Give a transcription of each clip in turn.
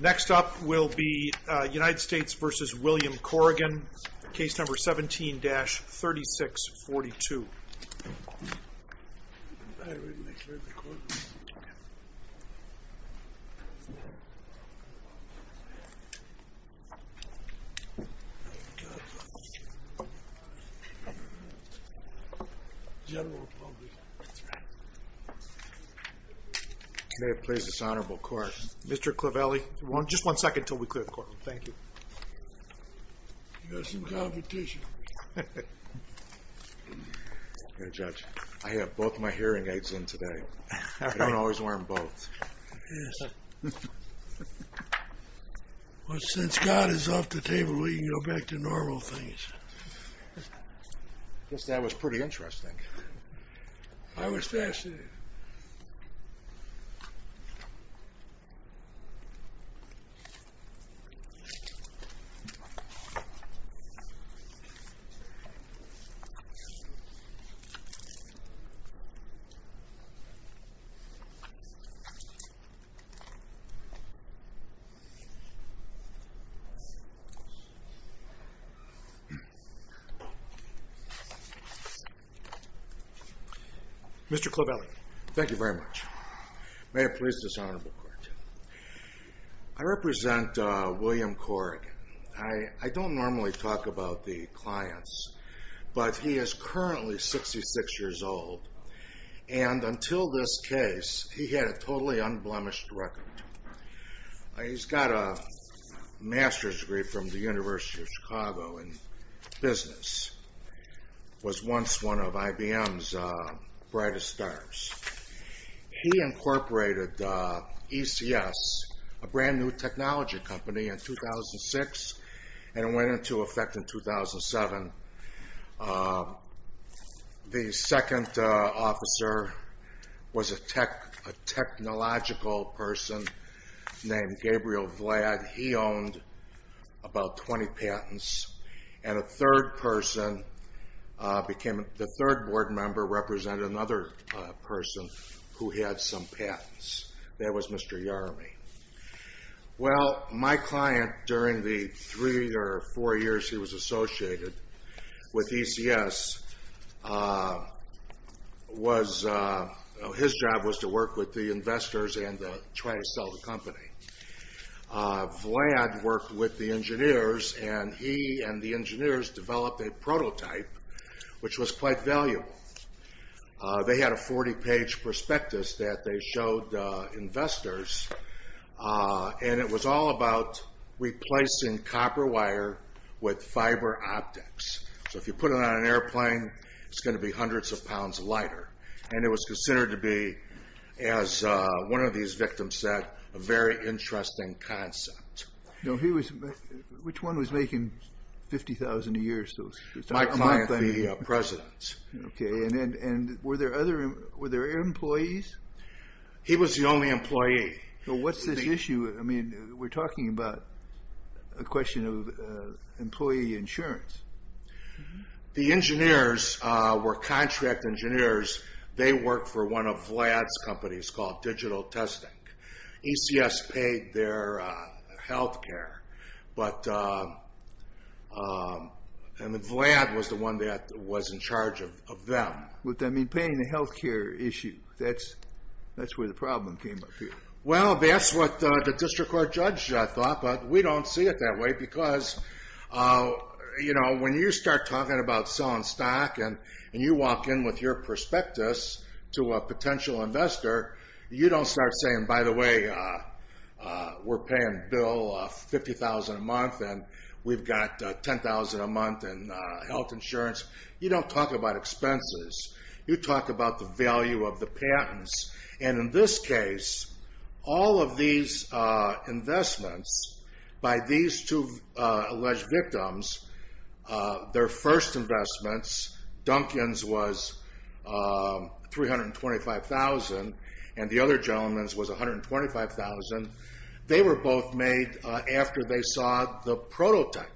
Next up will be United States v. William Corrigan, case number 17-3642. I have both of my hearing aids in today. I don't always wear them both. Since God is off the table, we can go back to normal things. I guess that was pretty interesting. I was fascinated. Mr. Clovelly. Thank you very much. May it please this Honorable Court. I represent William Corrigan. I don't normally talk about the clients, but he is currently 66 years old. And until this case, he had a totally unblemished record. He's got a master's degree from the University of Chicago in business. Was once one of IBM's brightest stars. He incorporated ECS, a brand new technology company, in 2006 and went into effect in 2007. The second officer was a technological person named Gabriel Vlad. He owned about 20 patents. And the third board member represented another person who had some patents. That was Mr. Yarmy. Well, my client, during the three or four years he was associated with ECS, his job was to work with the investors and try to sell the company. Vlad worked with the engineers, and he and the engineers developed a prototype, which was quite valuable. They had a 40-page prospectus that they showed investors, and it was all about replacing copper wire with fiber optics. So if you put it on an airplane, it's going to be hundreds of pounds lighter. And it was considered to be, as one of these victims said, a very interesting concept. Which one was making 50,000 a year? My client, the president. Okay, and were there other employees? He was the only employee. So what's this issue? I mean, we're talking about a question of employee insurance. The engineers were contract engineers. They worked for one of Vlad's companies called Digital Testing. ECS paid their health care. And Vlad was the one that was in charge of them. Would that mean paying the health care issue? That's where the problem came up here. Well, that's what the district court judge thought, but we don't see it that way. Because, you know, when you start talking about selling stock, and you walk in with your prospectus to a potential investor, you don't start saying, by the way, we're paying Bill 50,000 a month, and we've got 10,000 a month in health insurance. You don't talk about expenses. You talk about the value of the patents. And in this case, all of these investments by these two alleged victims, their first investments, Duncan's was $325,000, and the other gentleman's was $125,000. They were both made after they saw the prototype.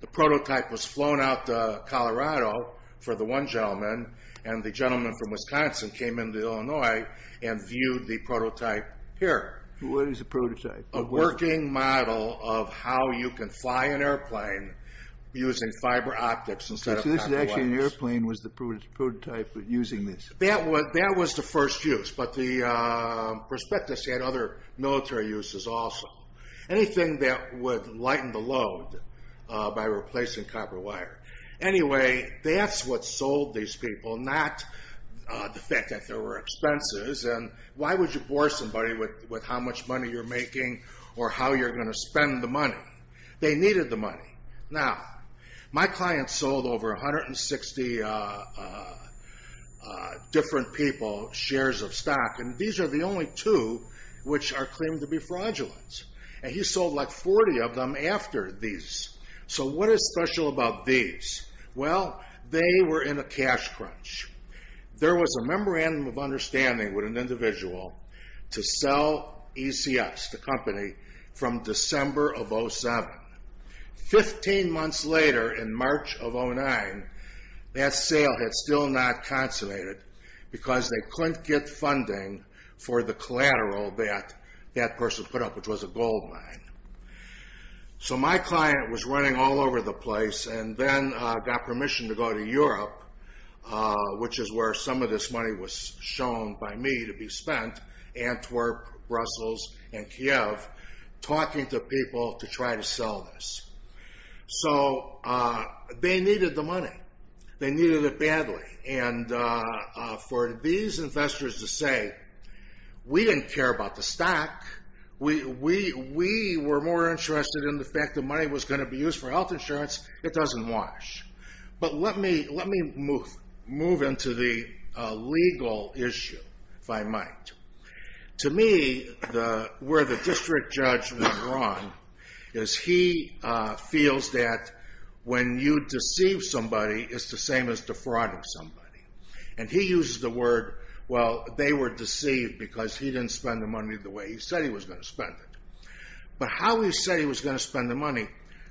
The prototype was flown out to Colorado for the one gentleman, and the gentleman from Wisconsin came into Illinois and viewed the prototype here. What is a prototype? A working model of how you can fly an airplane using fiber optics instead of copper wires. So this is actually an airplane was the prototype using this? That was the first use, but the prospectus had other military uses also. Anything that would lighten the load by replacing copper wire. Anyway, that's what sold these people, not the fact that there were expenses. And why would you bore somebody with how much money you're making or how you're going to spend the money? They needed the money. Now, my client sold over 160 different people shares of stock, and these are the only two which are claimed to be fraudulent. And he sold like 40 of them after these. So what is special about these? Well, they were in a cash crunch. There was a memorandum of understanding with an individual to sell ECS, the company, from December of 07. Fifteen months later in March of 09, that sale had still not consummated because they couldn't get funding for the collateral that that person put up, which was a gold mine. So my client was running all over the place and then got permission to go to Europe, which is where some of this money was shown by me to be spent, Antwerp, Brussels, and Kiev, talking to people to try to sell this. So they needed the money. They needed it badly. And for these investors to say, we didn't care about the stock. We were more interested in the fact that money was going to be used for health insurance it doesn't wash. But let me move into the legal issue, if I might. To me, where the district judge was wrong is he feels that when you deceive somebody, it's the same as defrauding somebody. And he uses the word, well, they were deceived because he didn't spend the money the way he said he was going to spend it. But how he said he was going to spend the money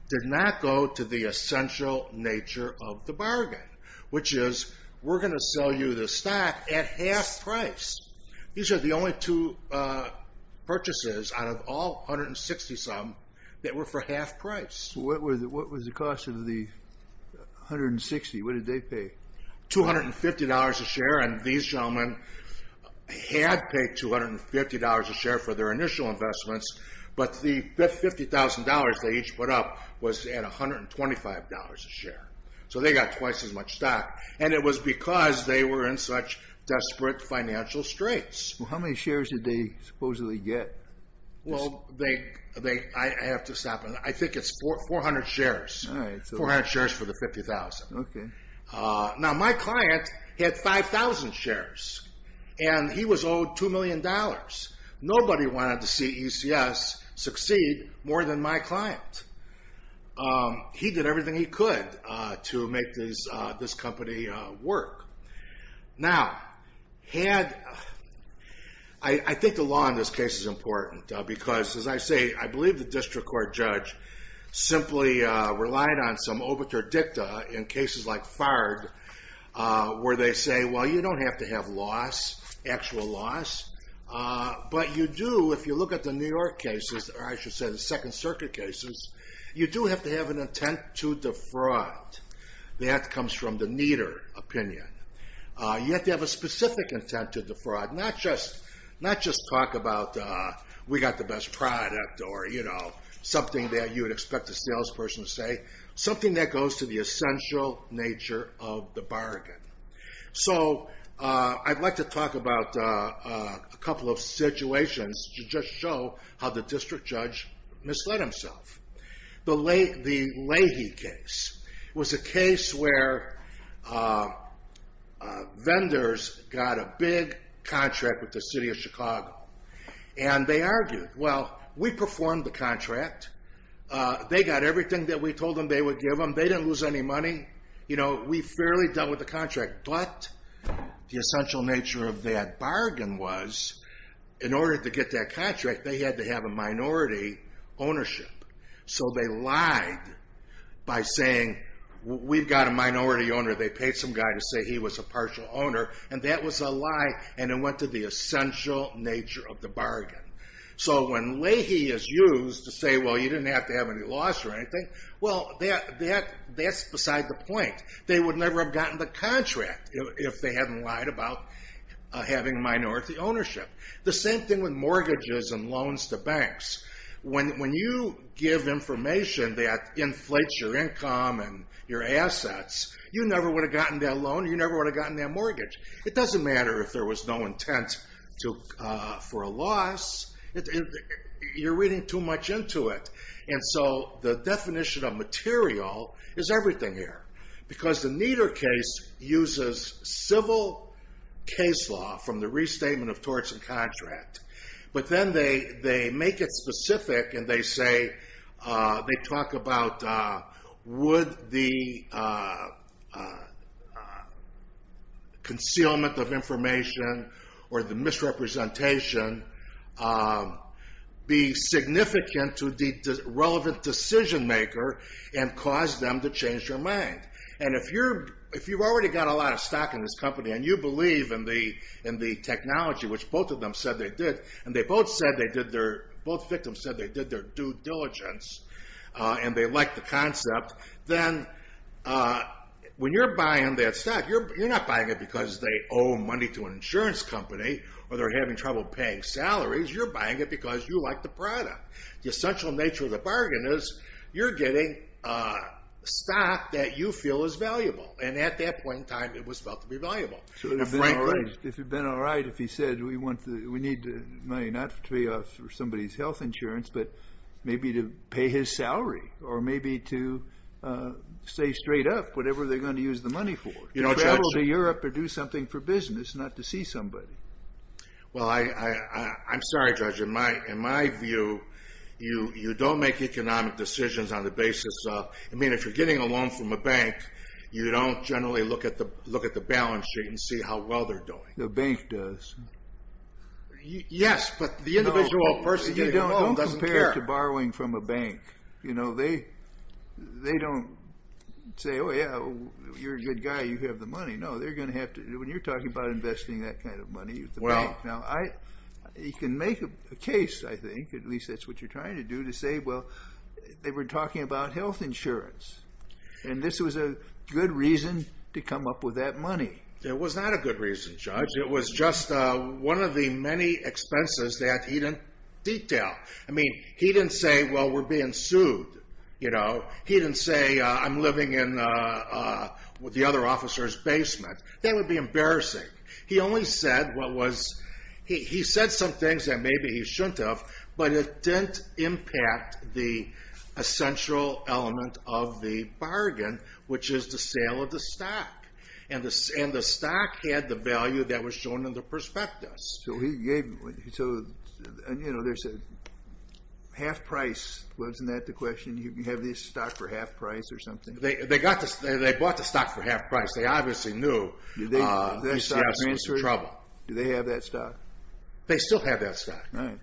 did not go to the essential nature of the bargain, which is we're going to sell you the stock at half price. These are the only two purchases out of all 160-some that were for half price. What was the cost of the 160? What did they pay? $250 a share. And these gentlemen had paid $250 a share for their initial investments. But the $50,000 they each put up was at $125 a share. So they got twice as much stock. And it was because they were in such desperate financial straits. How many shares did they supposedly get? Well, I have to stop. 400 shares for the $50,000. Now, my client had 5,000 shares. And he was owed $2 million. Nobody wanted to see UCS succeed more than my client. He did everything he could to make this company work. Now, I think the law in this case is important because, as I say, I believe the district court judge simply relied on some overture dicta in cases like FARD where they say, well, you don't have to have loss, actual loss. But you do, if you look at the New York cases, or I should say the Second Circuit cases, you do have to have an intent to defraud. That comes from the neater opinion. You have to have a specific intent to defraud, not just talk about we got the best product or something that you would expect a salesperson to say, something that goes to the essential nature of the bargain. So I'd like to talk about a couple of situations to just show how the district judge misled himself. The Leahy case was a case where vendors got a big contract with the city of Chicago. And they argued, well, we performed the contract. They got everything that we told them they would give them. They didn't lose any money. We fairly dealt with the contract. But the essential nature of that bargain was in order to get that contract, they had to have a minority ownership. So they lied by saying, we've got a minority owner. They paid some guy to say he was a partial owner. And that was a lie. And it went to the essential nature of the bargain. So when Leahy is used to say, well, you didn't have to have any loss or anything, well, that's beside the point. They would never have gotten the contract if they hadn't lied about having minority ownership. The same thing with mortgages and loans to banks. When you give information that inflates your income and your assets, you never would have gotten that loan. You never would have gotten that mortgage. It doesn't matter if there was no intent for a loss. You're reading too much into it. And so the definition of material is everything here. Because the Nieder case uses civil case law from the restatement of torts and contract. But then they make it specific, and they talk about would the concealment of information or the misrepresentation be significant to the relevant decision maker and cause them to change their mind. And if you've already got a lot of stock in this company and you believe in the technology, which both of them said they did, and both victims said they did their due diligence and they liked the concept, then when you're buying that stock, you're not buying it because they owe money to an insurance company or they're having trouble paying salaries. You're buying it because you like the product. The essential nature of the bargain is you're getting stock that you feel is valuable. And at that point in time, it was felt to be valuable. It would have been all right if he said, we need money not to pay off somebody's health insurance, but maybe to pay his salary or maybe to stay straight up, whatever they're going to use the money for. Travel to Europe or do something for business, not to see somebody. Well, I'm sorry, Judge. In my view, you don't make economic decisions on the basis of... I mean, if you're getting a loan from a bank, you don't generally look at the balance sheet and see how well they're doing. The bank does. Yes, but the individual person doesn't care. Don't compare it to borrowing from a bank. You know, they don't say, oh, yeah, you're a good guy, you have the money. No, they're going to have to... When you're talking about investing that kind of money, the bank... Now, you can make a case, I think, at least that's what you're trying to do, to say, well, they were talking about health insurance. And this was a good reason to come up with that money. It was not a good reason, Judge. It was just one of the many expenses that he didn't detail. I mean, he didn't say, well, we're being sued, you know. He didn't say, I'm living in the other officer's basement. That would be embarrassing. He only said what was... He said some things that maybe he shouldn't have, but it didn't impact the essential element of the bargain, which is the sale of the stock. And the stock had the value that was shown in the prospectus. So he gave... So, you know, there's a half price. Wasn't that the question? You can have this stock for half price or something? They bought the stock for half price. They obviously knew the stock was in trouble. Do they have that stock? They still have that stock. And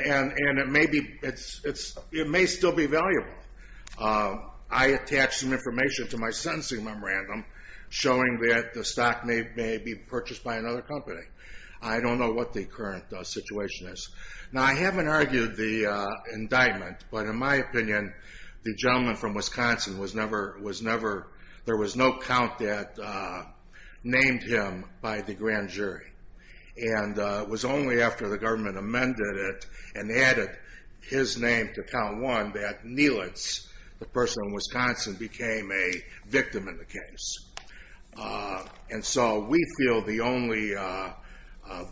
it may still be valuable. I attached some information to my sentencing memorandum showing that the stock may be purchased by another company. I don't know what the current situation is. Now, I haven't argued the indictment, but in my opinion, the gentleman from Wisconsin was never... There was no count that named him by the grand jury. And it was only after the government amended it and added his name to count one that Neelitz, the person from Wisconsin, became a victim in the case. And so we feel the only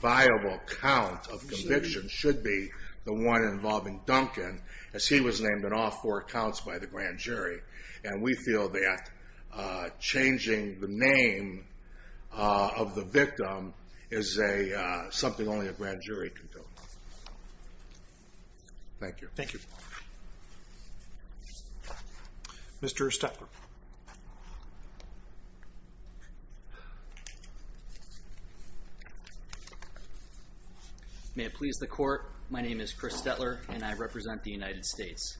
viable count of conviction should be the one involving Duncan, as he was named in all four counts by the grand jury. And we feel that changing the name of the victim is something only a grand jury can do. Thank you. Thank you. Mr. Stetler. May it please the court, my name is Chris Stetler and I represent the United States.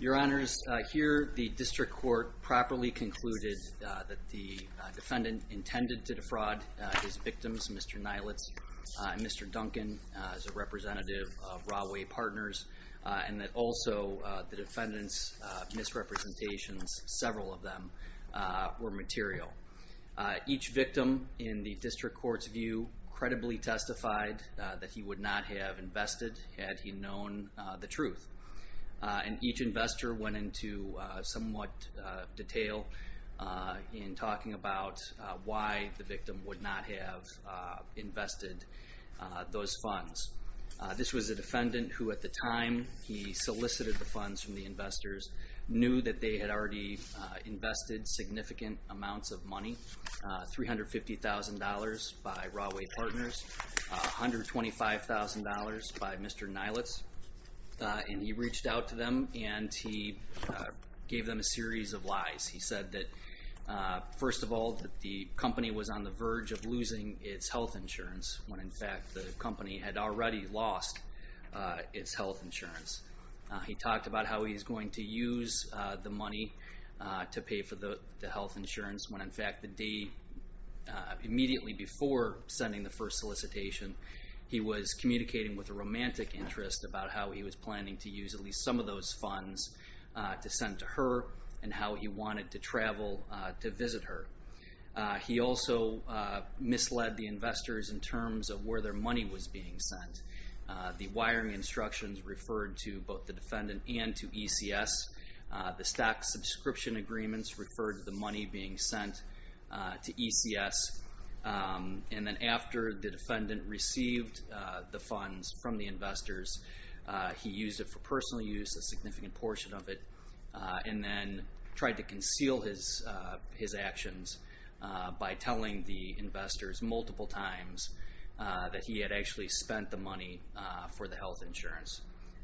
Your Honors, here the district court properly concluded that the defendant intended to defraud his victims, Mr. Neelitz and Mr. Duncan, as a representative of Rahway Partners, and that also the defendant's misrepresentations, several of them, were material. Each victim in the district court's view credibly testified that he would not have invested had he known the truth. And each investor went into somewhat detail in talking about why the victim would not have invested those funds. This was a defendant who at the time he solicited the funds from the investors, knew that they had already invested significant amounts of money, $350,000 by Rahway Partners, $125,000 by Mr. Neelitz, and he reached out to them and he gave them a series of lies. He said that, first of all, the company was on the verge of losing its health insurance when, in fact, the company had already lost its health insurance. He talked about how he was going to use the money to pay for the health insurance when, in fact, the day immediately before sending the first solicitation, he was communicating with a romantic interest about how he was planning to use at least some of those funds to send to her and how he wanted to travel to visit her. He also misled the investors in terms of where their money was being sent. The wiring instructions referred to both the defendant and to ECS. The stock subscription agreements referred to the money being sent to ECS. And then after the defendant received the funds from the investors, he used it for personal use, a significant portion of it, and then tried to conceal his actions by telling the investors multiple times that he had actually spent the money for the health insurance.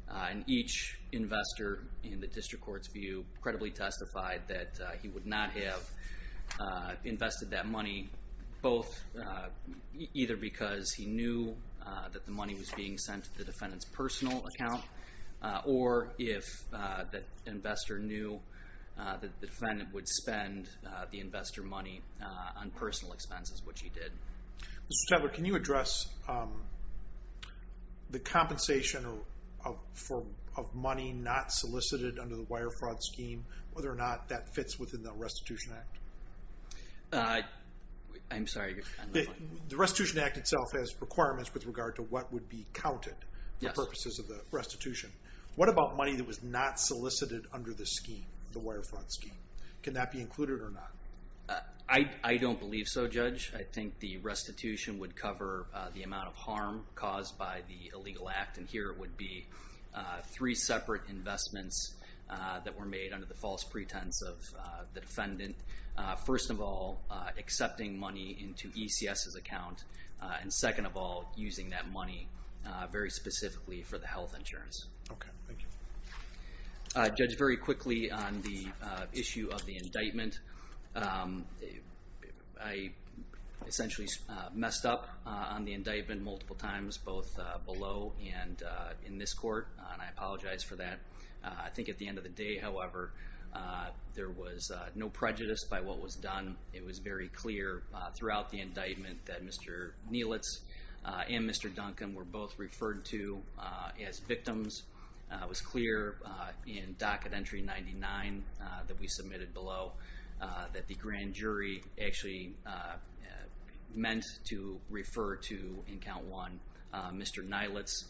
And each investor, in the district court's view, credibly testified that he would not have invested that money either because he knew that the money was being sent to the defendant's personal account or if the investor knew that the defendant would spend the investor money on personal expenses, which he did. Mr. Chadler, can you address the compensation of money not solicited under the Wire Fraud Scheme, whether or not that fits within the Restitution Act? I'm sorry. The Restitution Act itself has requirements with regard to what would be counted for purposes of the restitution. What about money that was not solicited under the scheme, the Wire Fraud Scheme? Can that be included or not? I don't believe so, Judge. I think the restitution would cover the amount of harm caused by the illegal act, and here it would be three separate investments that were made under the false pretense of the defendant. First of all, accepting money into ECS's account, and second of all, using that money very specifically for the health insurance. Okay, thank you. Judge, very quickly on the issue of the indictment, I essentially messed up on the indictment multiple times, both below and in this court, and I apologize for that. I think at the end of the day, however, there was no prejudice by what was done. It was very clear throughout the indictment that Mr. Nielitz and Mr. Duncan were both referred to as victims. It was clear in docket entry 99 that we submitted below that the grand jury actually meant to refer to, in count one, Mr. Nielitz.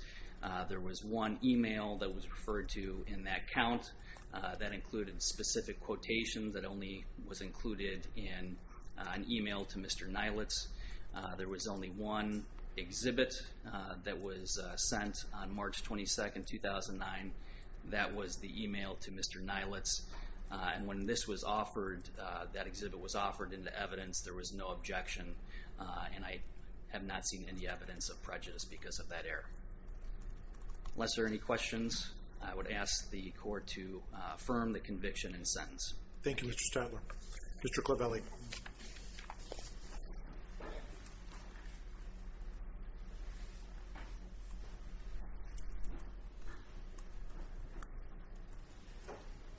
There was one email that was referred to in that count that included specific quotations that only was included in an email to Mr. Nielitz. There was only one exhibit that was sent on March 22, 2009. That was the email to Mr. Nielitz. When that exhibit was offered into evidence, there was no objection, and I have not seen any evidence of prejudice because of that error. Unless there are any questions, I would ask the court to affirm the conviction and sentence. Thank you, Mr. Statler. Mr. Clavelli.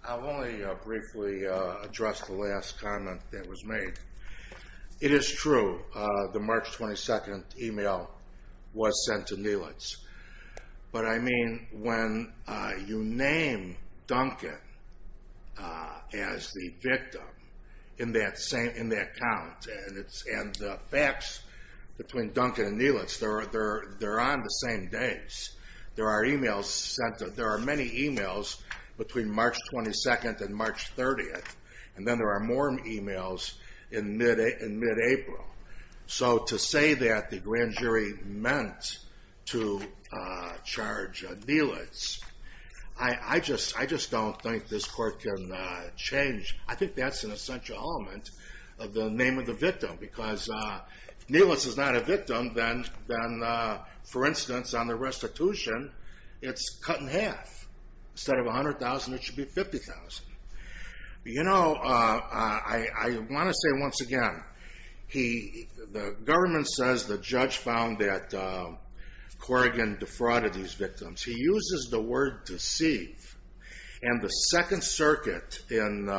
I'll only briefly address the last comment that was made. It is true the March 22 email was sent to Nielitz, but I mean when you name Duncan as the victim in that count, and the facts between Duncan and Nielitz, they're on the same dates. There are many emails between March 22 and March 30, and then there are more emails in mid-April. So to say that the grand jury meant to charge Nielitz, I just don't think this court can change. I think that's an essential element of the name of the victim because if Nielitz is not a victim, then, for instance, on the restitution, it's cut in half. Instead of $100,000, it should be $50,000. You know, I want to say once again, the government says the judge found that Corrigan defrauded these victims. He uses the word deceive, and the Second Circuit in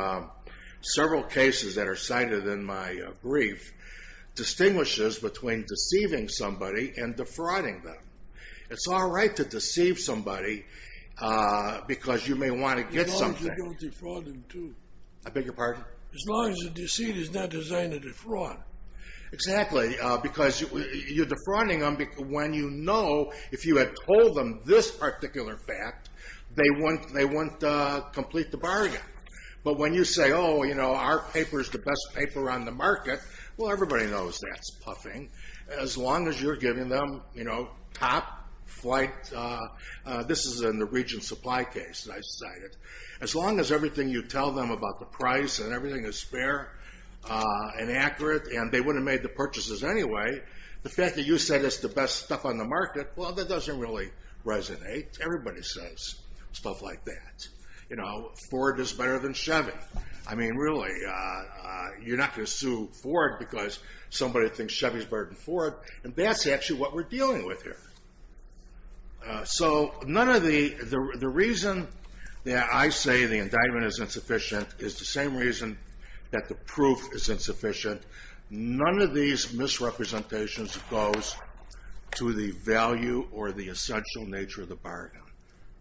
several cases that are cited in my brief distinguishes between deceiving somebody and defrauding them. It's all right to deceive somebody because you may want to get something. As long as you don't defraud them, too. I beg your pardon? As long as the deceit is not designed to defraud. Exactly, because you're defrauding them when you know, if you had told them this particular fact, they wouldn't complete the bargain. But when you say, oh, you know, our paper is the best paper on the market, well, everybody knows that's puffing, as long as you're giving them, you know, top flight. This is in the region supply case that I cited. As long as everything you tell them about the price and everything is fair and accurate, and they wouldn't have made the purchases anyway, the fact that you said it's the best stuff on the market, well, that doesn't really resonate. Everybody says stuff like that. You know, Ford is better than Chevy. I mean, really, you're not going to sue Ford because somebody thinks Chevy is better than Ford, and that's actually what we're dealing with here. So none of the reason that I say the indictment is insufficient is the same reason that the proof is insufficient. None of these misrepresentations goes to the value or the essential nature of the bargain.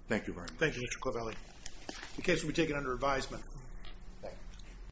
Thank you very much. Thank you, Mr. Covelli. The case will be taken under advisement.